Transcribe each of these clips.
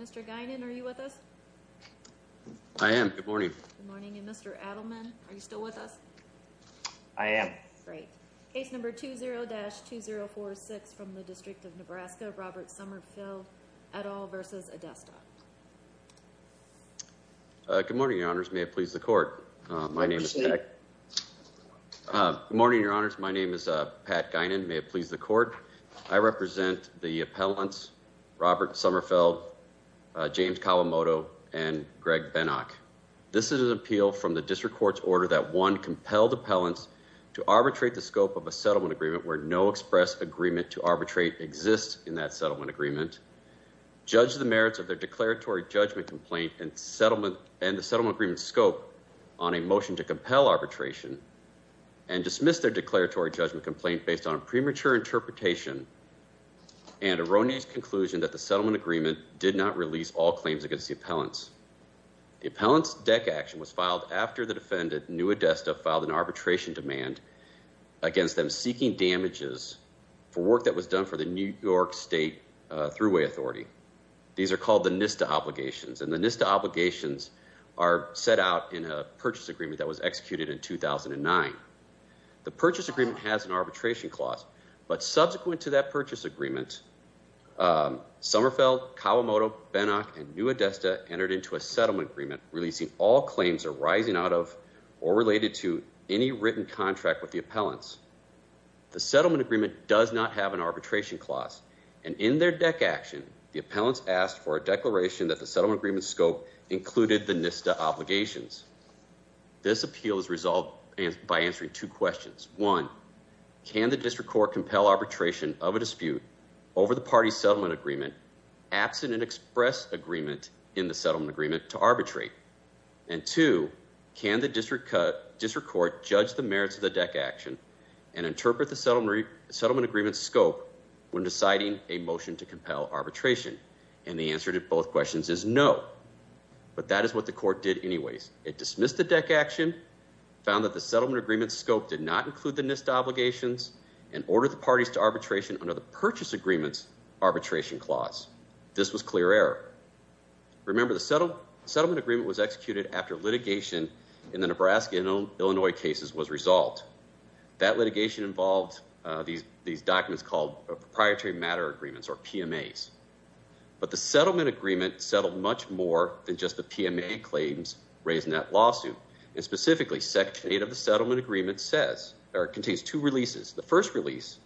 Mr. Guinan, are you with us? I am. Good morning. Good morning. And Mr. Adelman, are you still with us? I am. Great. Case number 20-2046 from the District of Nebraska, Robert Sommerfeld et al. v. Adesta. Good morning, your honors. May it please the court. Good morning, your honors. My name is Pat Guinan. May it please the court. I represent the appellants Robert Sommerfeld, James Kawamoto, and Greg Benak. This is an appeal from the district court's order that one compelled appellants to arbitrate the scope of a settlement agreement where no express agreement to arbitrate exists in that settlement agreement, judge the merits of their declaratory judgment complaint and the settlement agreement's scope on a motion to compel arbitration, and dismiss their declaratory judgment complaint based on their determination and erroneous conclusion that the settlement agreement did not release all claims against the appellants. The appellants' deck action was filed after the defendant, New Adesta, filed an arbitration demand against them seeking damages for work that was done for the New York State Thruway Authority. These are called the NISTA obligations, and the NISTA obligations are set out in a purchase agreement that was executed in 2009. The purchase agreement has an arbitration clause, but subsequent to that purchase agreement, Sommerfeld, Kawamoto, Benak, and New Adesta entered into a settlement agreement releasing all claims arising out of or related to any written contract with the appellants. The settlement agreement does not have an arbitration clause, and in their deck action, the appellants asked for a declaration that the settlement agreement's scope included the NISTA obligations. This appeal is resolved by answering two questions. One, can the district court compel arbitration of a dispute over the party settlement agreement absent an express agreement in the settlement agreement to arbitrate? And two, can the district court judge the merits of the deck action and interpret the settlement agreement's scope when deciding a motion to compel arbitration? And the answer to both questions is no, but that is what the court did anyways. It dismissed the settlement agreement's scope did not include the NISTA obligations and ordered the parties to arbitration under the purchase agreement's arbitration clause. This was clear error. Remember, the settlement agreement was executed after litigation in the Nebraska and Illinois cases was resolved. That litigation involved these documents called proprietary matter agreements or PMAs, but the settlement agreement settled much more than just the PMA claims raised in that settlement agreement says, or contains two releases. The first release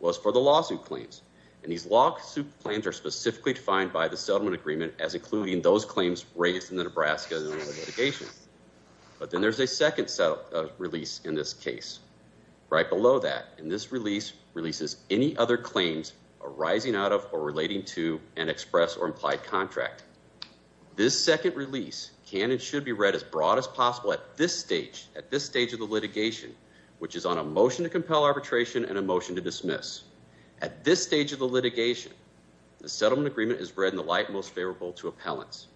was for the lawsuit claims, and these lawsuit plans are specifically defined by the settlement agreement as including those claims raised in the Nebraska and Illinois litigation. But then there's a second release in this case right below that, and this release releases any other claims arising out of or relating to an express or implied contract. This second release can and should be read as broad as at this stage of the litigation, which is on a motion to compel arbitration and a motion to dismiss. At this stage of the litigation, the settlement agreement is read in the light most favorable to appellants,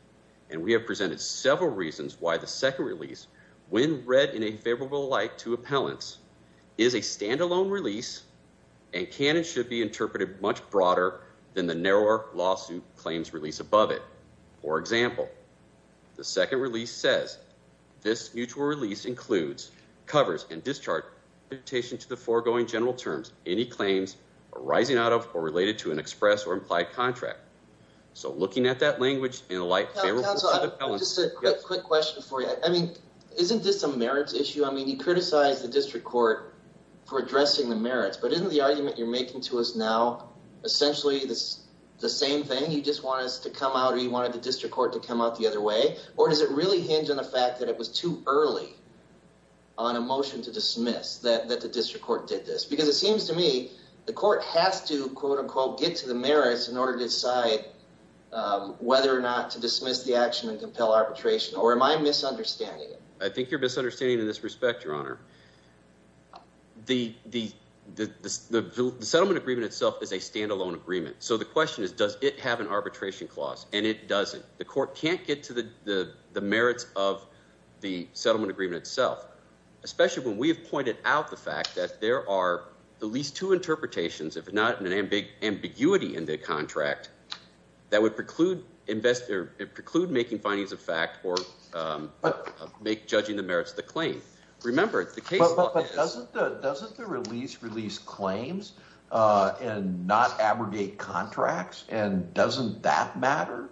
and we have presented several reasons why the second release, when read in a favorable light to appellants, is a standalone release and can and should be interpreted much broader than the narrower lawsuit claims release above it. For example, the second release says this mutual release includes covers and discharge to the foregoing general terms, any claims arising out of or related to an express or implied contract. So looking at that language in a light favorable to the appellants. Just a quick question for you. I mean, isn't this a merits issue? I mean, you criticize the district court for addressing the merits, but isn't the argument you're making to us now essentially the same thing? You just want us to come out or you wanted the district court to come out the other way, or does it really hinge on the fact that it was too early on a motion to dismiss that the district court did this? Because it seems to me the court has to, quote unquote, get to the merits in order to decide whether or not to dismiss the action and compel arbitration, or am I misunderstanding it? I think you're misunderstanding in this respect, your honor. The settlement agreement itself is a standalone agreement. So the question is, does it have an arbitration clause? And it doesn't. The court can't get to the merits of the settlement agreement itself, especially when we have pointed out the fact that there are at least two interpretations, if not an ambiguity in the contract, that would preclude making findings of fact or judging the merits of the claim. Remember, doesn't the release release claims and not abrogate contracts, and doesn't that matter?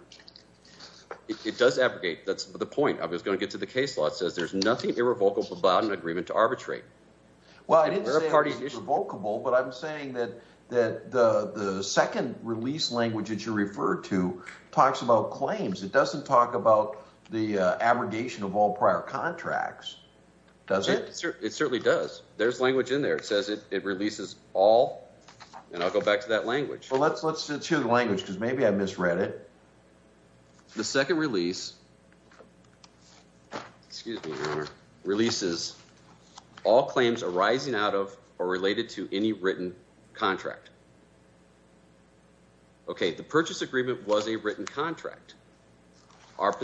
It does abrogate. That's the point. I was going to get to the case law. It says there's nothing irrevocable about an agreement to arbitrate. Well, I didn't say irrevocable, but I'm saying that that the second release language that you refer to talks about claims. It doesn't talk about the abrogation of all prior contracts, does it? It certainly does. There's language in there. It says it releases all, and I'll go back to that language. Well, let's hear the language, because maybe I misread it. The second release releases all claims arising out of or related to any written contract. Okay, the purchase agreement was a written contract. But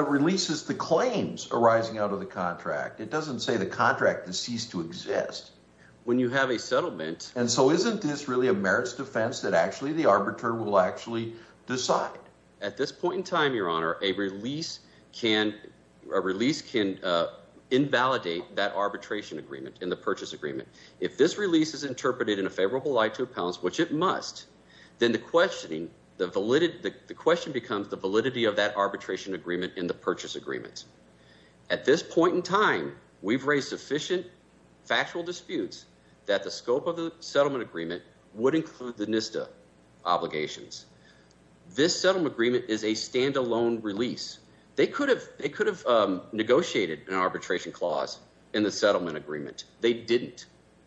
it releases the claims arising out of the contract. It doesn't say the contract has ceased to exist. And so isn't this really a merits defense that actually the arbiter will actually decide? At this point in time, your honor, a release can invalidate that arbitration agreement in the purchase agreement. If this release is interpreted in a favorable light to appellants, which it must, then the question becomes the validity of that arbitration agreement in the purchase agreement. At this point in time, we've raised sufficient factual disputes that the scope of the settlement agreement would include the NISTA obligations. This settlement agreement is a standalone release. They could have negotiated an arbitration clause in the settlement agreement. They didn't.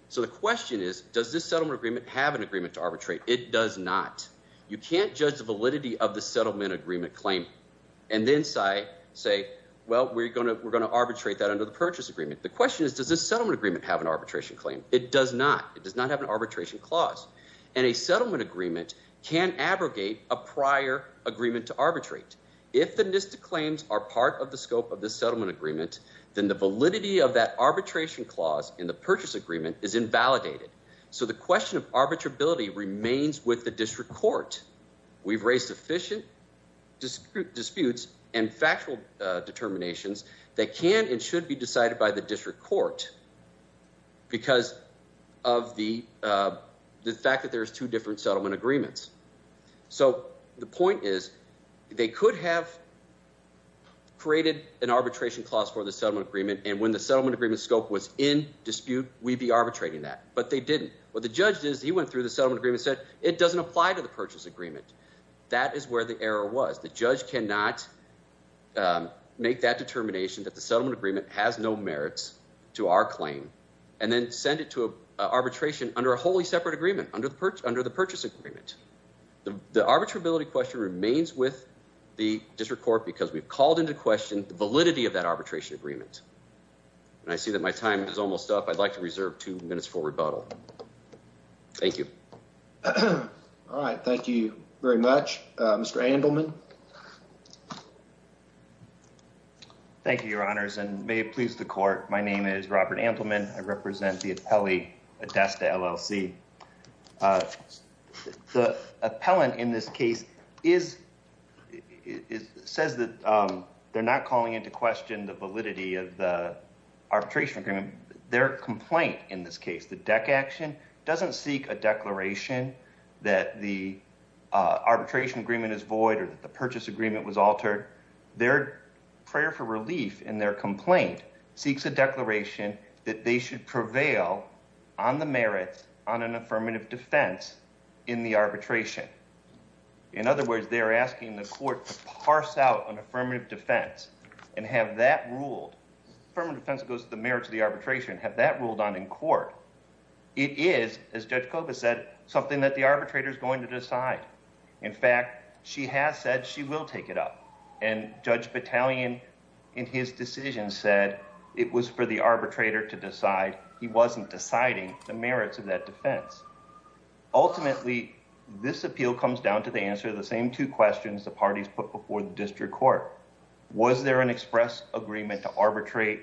So the question is, does this settlement agreement have an agreement to arbitrate? It does not. You can't judge the validity of the settlement agreement claim and then say, well, we're going to arbitrate that under the purchase agreement. The question is, does this settlement agreement have an arbitration claim? It does not. It does not have an arbitration clause. And a settlement agreement can abrogate a prior agreement to arbitrate. If the NISTA claims are part of the scope of the settlement agreement, then the validity of that arbitration clause in the purchase agreement is invalidated. So the question of arbitrability remains with the district court. We've raised sufficient disputes and factual determinations that can and should be decided by the district court because of the fact that there's two settlement agreements. So the point is, they could have created an arbitration clause for the settlement agreement, and when the settlement agreement scope was in dispute, we'd be arbitrating that. But they didn't. What the judge did is he went through the settlement agreement and said, it doesn't apply to the purchase agreement. That is where the error was. The judge cannot make that determination that the settlement agreement has no merits to our claim and then send it to arbitration under a wholly separate agreement, under the purchase agreement. The arbitrability question remains with the district court because we've called into question the validity of that arbitration agreement. And I see that my time is almost up. I'd like to reserve two minutes for rebuttal. Thank you. All right. Thank you very much. Mr. Andelman. Thank you, your honors, and may it please the court. My name is Robert Andelman. I represent the appellee at ADESTA LLC. The appellant in this case is, says that they're not calling into question the validity of the arbitration agreement. Their complaint in this case, the deck action, doesn't seek a declaration that the arbitration agreement is void or that the purchase agreement was altered. Their prayer for relief in their complaint seeks a declaration that they should prevail on the merits on an affirmative defense in the arbitration. In other words, they're asking the court to parse out an affirmative defense and have that ruled. Affirmative defense goes to the merits of the arbitration, have that ruled on in court. It is, as Judge Koba said, something that the arbitrator is going to decide. In fact, she has said she will take it up. And Judge Battalion in his decision said it was for the arbitrator to decide. He wasn't deciding the merits of that defense. Ultimately, this appeal comes down to the answer to the same two questions the parties put before the district court. Was there an express agreement to arbitrate?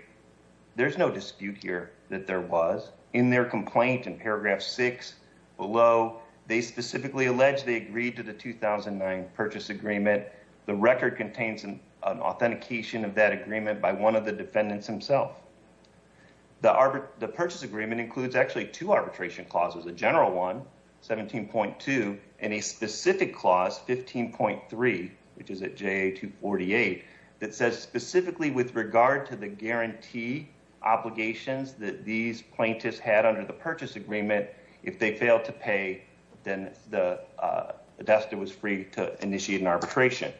There's no dispute here that there was. In their complaint in paragraph 6 below, they specifically allege they agreed to the 2009 purchase agreement. The record contains an authentication of that agreement by one of the defendants himself. The purchase agreement includes actually two arbitration clauses, a general one, 17.2, and a specific clause, 15.3, which is at JA 248, that says specifically with regard to the guarantee obligations that these plaintiffs had under the purchase agreement, if they failed to pay, then the destitute was free to initiate an arbitration.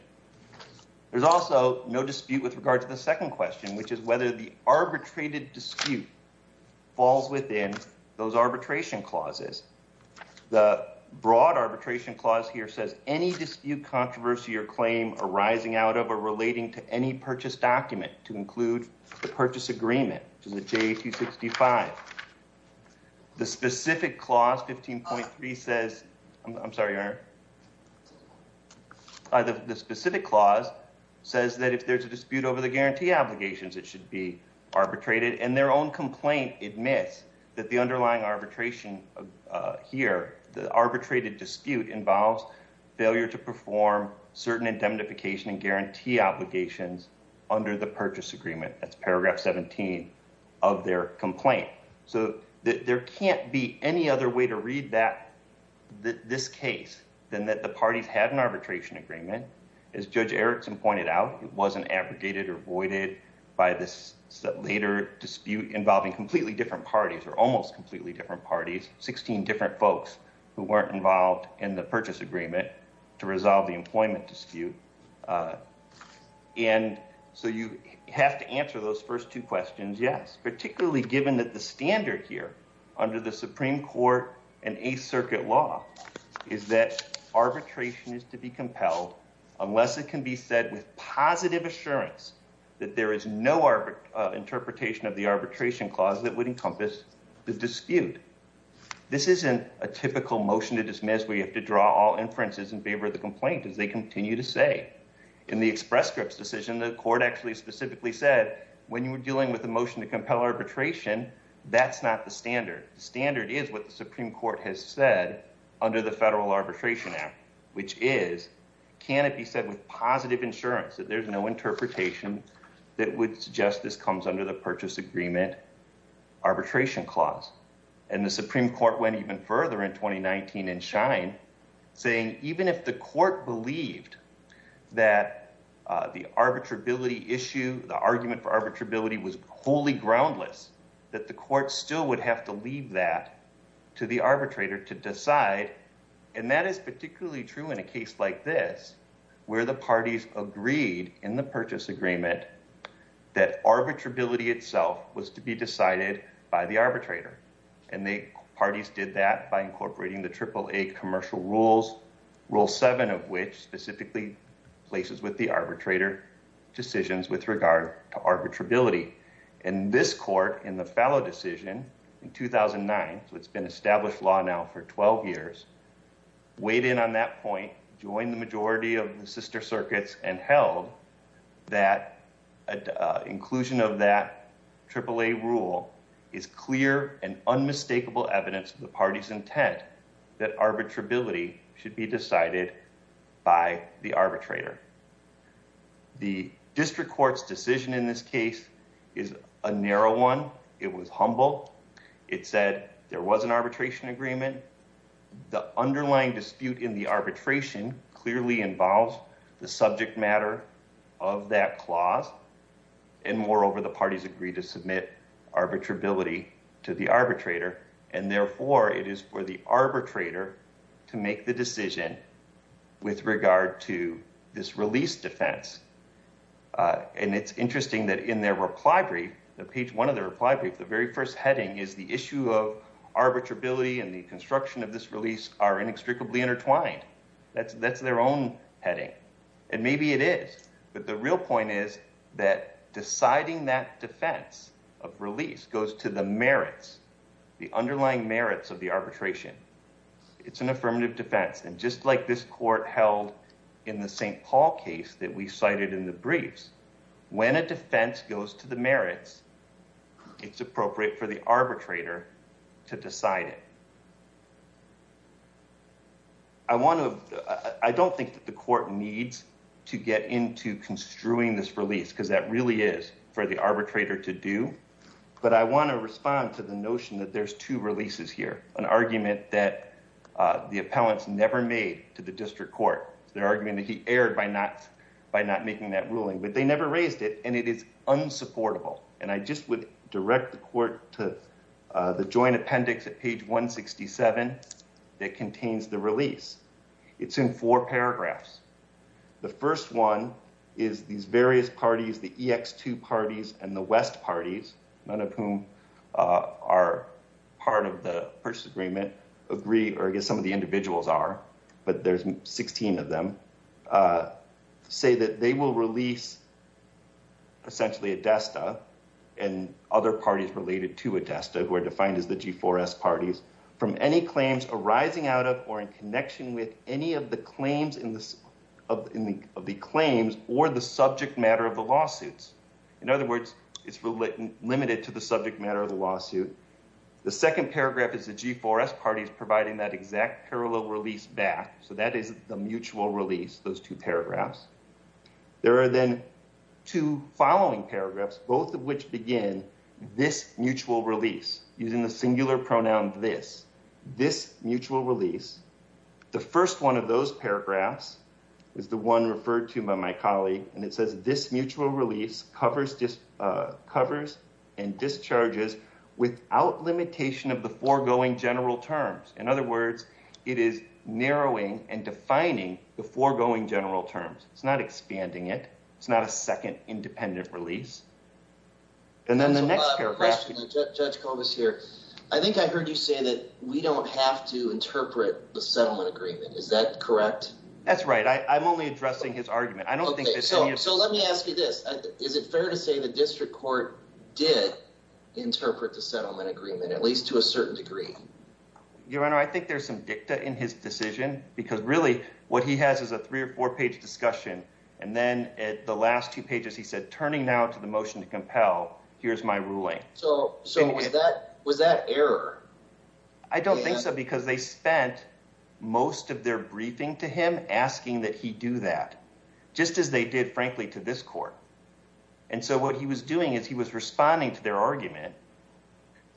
There's also no dispute with regard to the second question, which is whether the arbitrated dispute falls within those arbitration clauses. The broad arbitration clause here says any dispute, controversy, or claim arising out of or relating to any purchase document to include the purchase agreement, which is at JA 265. The specific clause, 15.3, says, I'm sorry, Your Honor. The specific clause says that if there's a dispute over the guarantee obligations, it should be arbitrated. And their own complaint admits that the underlying arbitration here, the arbitrated dispute, involves failure to perform certain indemnification and guarantee obligations under the purchase agreement. That's paragraph 17 of their complaint. So there can't be any other way to read that, this case, than that the parties had an arbitration agreement. As Judge Erickson pointed out, it wasn't abrogated or voided by this later dispute involving completely different parties or almost completely different parties, 16 different folks who weren't involved in the purchase agreement to resolve the employment dispute. And so you have to answer those first two questions, yes, particularly given that the standard here under the Supreme Court and Eighth Circuit law is that arbitration is to be compelled unless it can be said with positive assurance that there is no interpretation of the arbitration clause that would encompass the dispute. This isn't a typical motion to dismiss where you have to draw all inferences in favor of the complaint, as they continue to say. In the express scripts decision, the court actually specifically said, when you're dealing with a motion to compel arbitration, that's not the standard. The standard is what the Supreme Court has said under the Federal Arbitration Act, which is, can it be said with positive assurance that there's no interpretation that would suggest this comes under the purchase agreement arbitration clause? And the Supreme Court went even further in 2019 in Schein, saying even if the court believed that the arbitrability issue, the argument for arbitrability was wholly groundless, that the court still would have to leave that to the arbitrator to decide. And that is particularly true in a case like this, where the parties agreed in the purchase agreement that arbitrability itself was to be decided by the arbitrator. And the parties did that by incorporating the AAA commercial rules, Rule 7 of which specifically places with the arbitrator decisions with regard to arbitrability. And this court in the fallow decision in 2009, so it's been established law now for 12 years, weighed in on that point, joined the majority of the sister circuits and held that inclusion of that AAA rule is clear and unmistakable evidence of the party's intent that arbitrability should be decided by the arbitrator. The district court's decision in this case is a narrow one. It was humble. It said there was an arbitration agreement. The underlying dispute in the arbitration clearly involves the subject matter of that clause. And moreover, the parties agreed to submit arbitrability to the arbitrator. And therefore, it is for the arbitrator to make the decision with regard to this release defense. And it's interesting that in their reply brief, the page one of the reply brief, the very first heading is the issue of arbitrability and the construction of this release are inextricably intertwined. That's their own heading. And maybe it is. But the real point is that deciding that defense of release goes to the merits, the underlying merits of the arbitration. It's an affirmative defense. And just like this court held in the St. Paul case that we cited in the briefs, when a defense goes to the merits, it's appropriate for the arbitrator to decide it. I want to, I don't think that the court needs to get into construing this release because that responds to the notion that there's two releases here, an argument that the appellants never made to the district court, their argument that he erred by not making that ruling, but they never raised it. And it is unsupportable. And I just would direct the court to the joint appendix at page 167 that contains the release. It's in four paragraphs. The first one is these various parties, the EX2 parties and the West parties, none of whom are part of the purchase agreement, agree, or I guess some of the individuals are, but there's 16 of them, say that they will release essentially ADESTA and other parties related to ADESTA who are defined as the G4S parties from any claims arising out of or in connection with any of the claims in the, of the claims or the subject matter of the lawsuits. In other words, it's limited to the subject matter of the lawsuit. The second paragraph is the G4S parties providing that exact parallel release back. So that is the mutual release, those two paragraphs. There are then two following paragraphs, both of which begin this mutual release using the singular pronoun, this, this mutual release. The first one of those paragraphs is the one referred to by my colleague. And it says this mutual release covers, just covers and discharges without limitation of the foregoing general terms. In other words, it is narrowing and defining the foregoing general terms. It's not expanding it. It's not a second independent release. And then the next paragraph, Judge Cobus here. I think I heard you say that we don't have to interpret the settlement agreement. Is that correct? That's right. I I'm only addressing his argument. I don't think. So, so let me ask you this. Is it fair to say the district court did interpret the settlement agreement, at least to a certain degree? Your Honor, I think there's some dicta in his decision because really what he has is a three or four page discussion. And then at the last two pages, he said, turning now to the motion to compel, here's my ruling. So, so was that, was that error? I don't think so because they spent most of their briefing to him asking that he do that, just as they did, frankly, to this court. And so what he was doing is he was responding to their argument,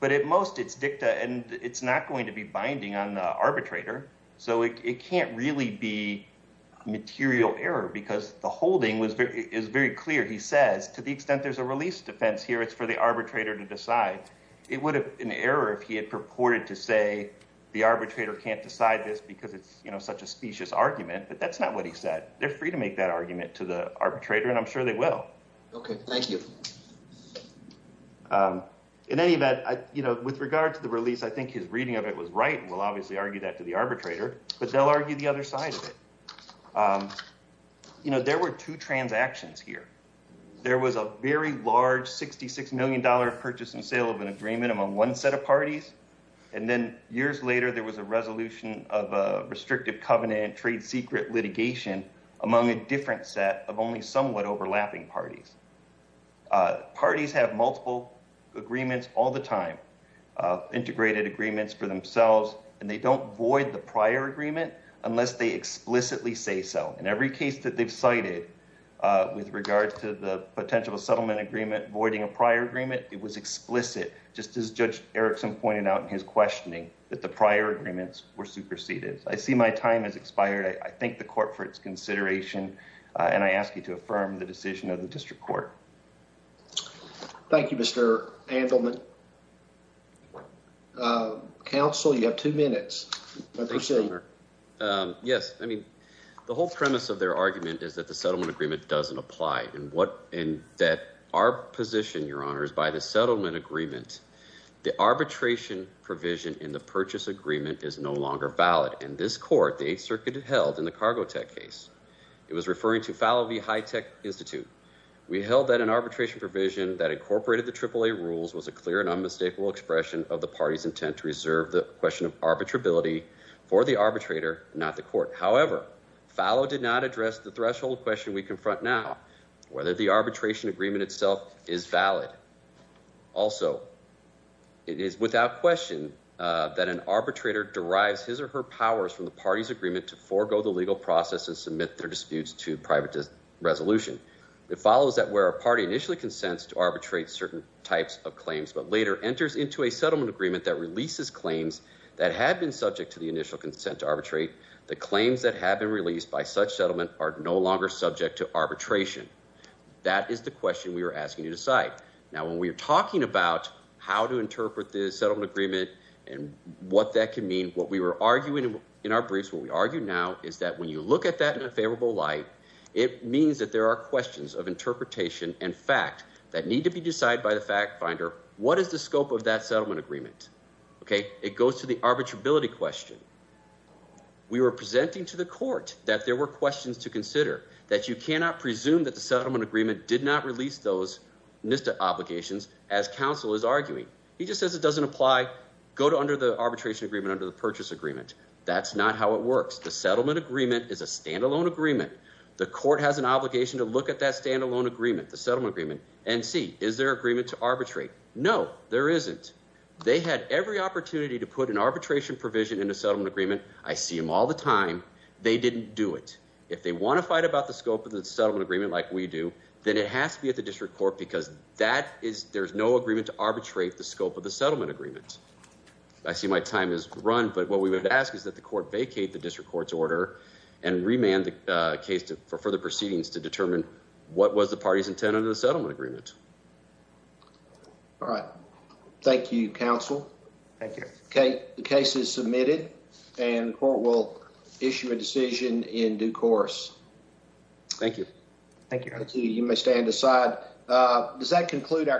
but at most it's dicta and it's not going to be binding on the arbitrator. So it to the extent there's a release defense here, it's for the arbitrator to decide. It would have been an error if he had purported to say the arbitrator can't decide this because it's such a specious argument, but that's not what he said. They're free to make that argument to the arbitrator and I'm sure they will. Okay. Thank you. In any event, with regard to the release, I think his reading of it was right. We'll obviously argue that to the arbitrator, but they'll argue the other side of it. You know, there were two transactions here. There was a very large $66 million purchase and sale of an agreement among one set of parties. And then years later, there was a resolution of a restrictive covenant trade secret litigation among a different set of only somewhat overlapping parties. Parties have multiple agreements all the unless they explicitly say so. In every case that they've cited with regard to the potential settlement agreement voiding a prior agreement, it was explicit, just as Judge Erickson pointed out in his questioning, that the prior agreements were superseded. I see my time has expired. I thank the court for its consideration and I ask you to affirm the decision of the district court. Thank you, Mr. Andelman. Counsel, you have two minutes. Yes. I mean, the whole premise of their argument is that the settlement agreement doesn't apply and that our position, Your Honor, is by the settlement agreement, the arbitration provision in the purchase agreement is no longer valid. In this court, the Eighth Circuit held in the arbitration provision that incorporated the AAA rules was a clear and unmistakable expression of the party's intent to reserve the question of arbitrability for the arbitrator, not the court. However, Fallow did not address the threshold question we confront now, whether the arbitration agreement itself is valid. Also, it is without question that an arbitrator derives his or her powers from the party's agreement to forego the legal process and submit their disputes to private resolution. It follows that where a party initially consents to arbitrate certain types of claims but later enters into a settlement agreement that releases claims that had been subject to the initial consent to arbitrate, the claims that have been released by such settlement are no longer subject to arbitration. That is the question we are asking you to decide. Now, when we are talking about how to interpret the settlement agreement and what that can mean, what we were arguing in our briefs, what we argue now is that when you look at that in a favorable light, it means that there are questions of interpretation and fact that need to be decided by the fact finder. What is the scope of that settlement agreement? Okay, it goes to the arbitrability question. We were presenting to the court that there were questions to consider, that you cannot presume that the settlement agreement did not release those NISTA obligations as counsel is arguing. He just says it doesn't apply, go to under the arbitration agreement, under the purchase agreement. That's not how it works. The settlement agreement is a standalone agreement. The court has an obligation to look at that standalone agreement, the settlement agreement, and see, is there agreement to arbitrate? No, there isn't. They had every opportunity to put an arbitration provision in a settlement agreement. I see them all the time. They didn't do it. If they want to fight about the scope of the settlement agreement like we do, then it has to be at the district court because there's no agreement to arbitrate the scope of the settlement agreement. I see my time is run, but what we would ask is that the court vacate the district court's order and remand the case for further proceedings to determine what was the party's intent under the settlement agreement. All right, thank you, counsel. Thank you. Okay, the case is submitted and the court will issue a decision in due course. Thank you. Thank you. You may stand aside. Does that conclude our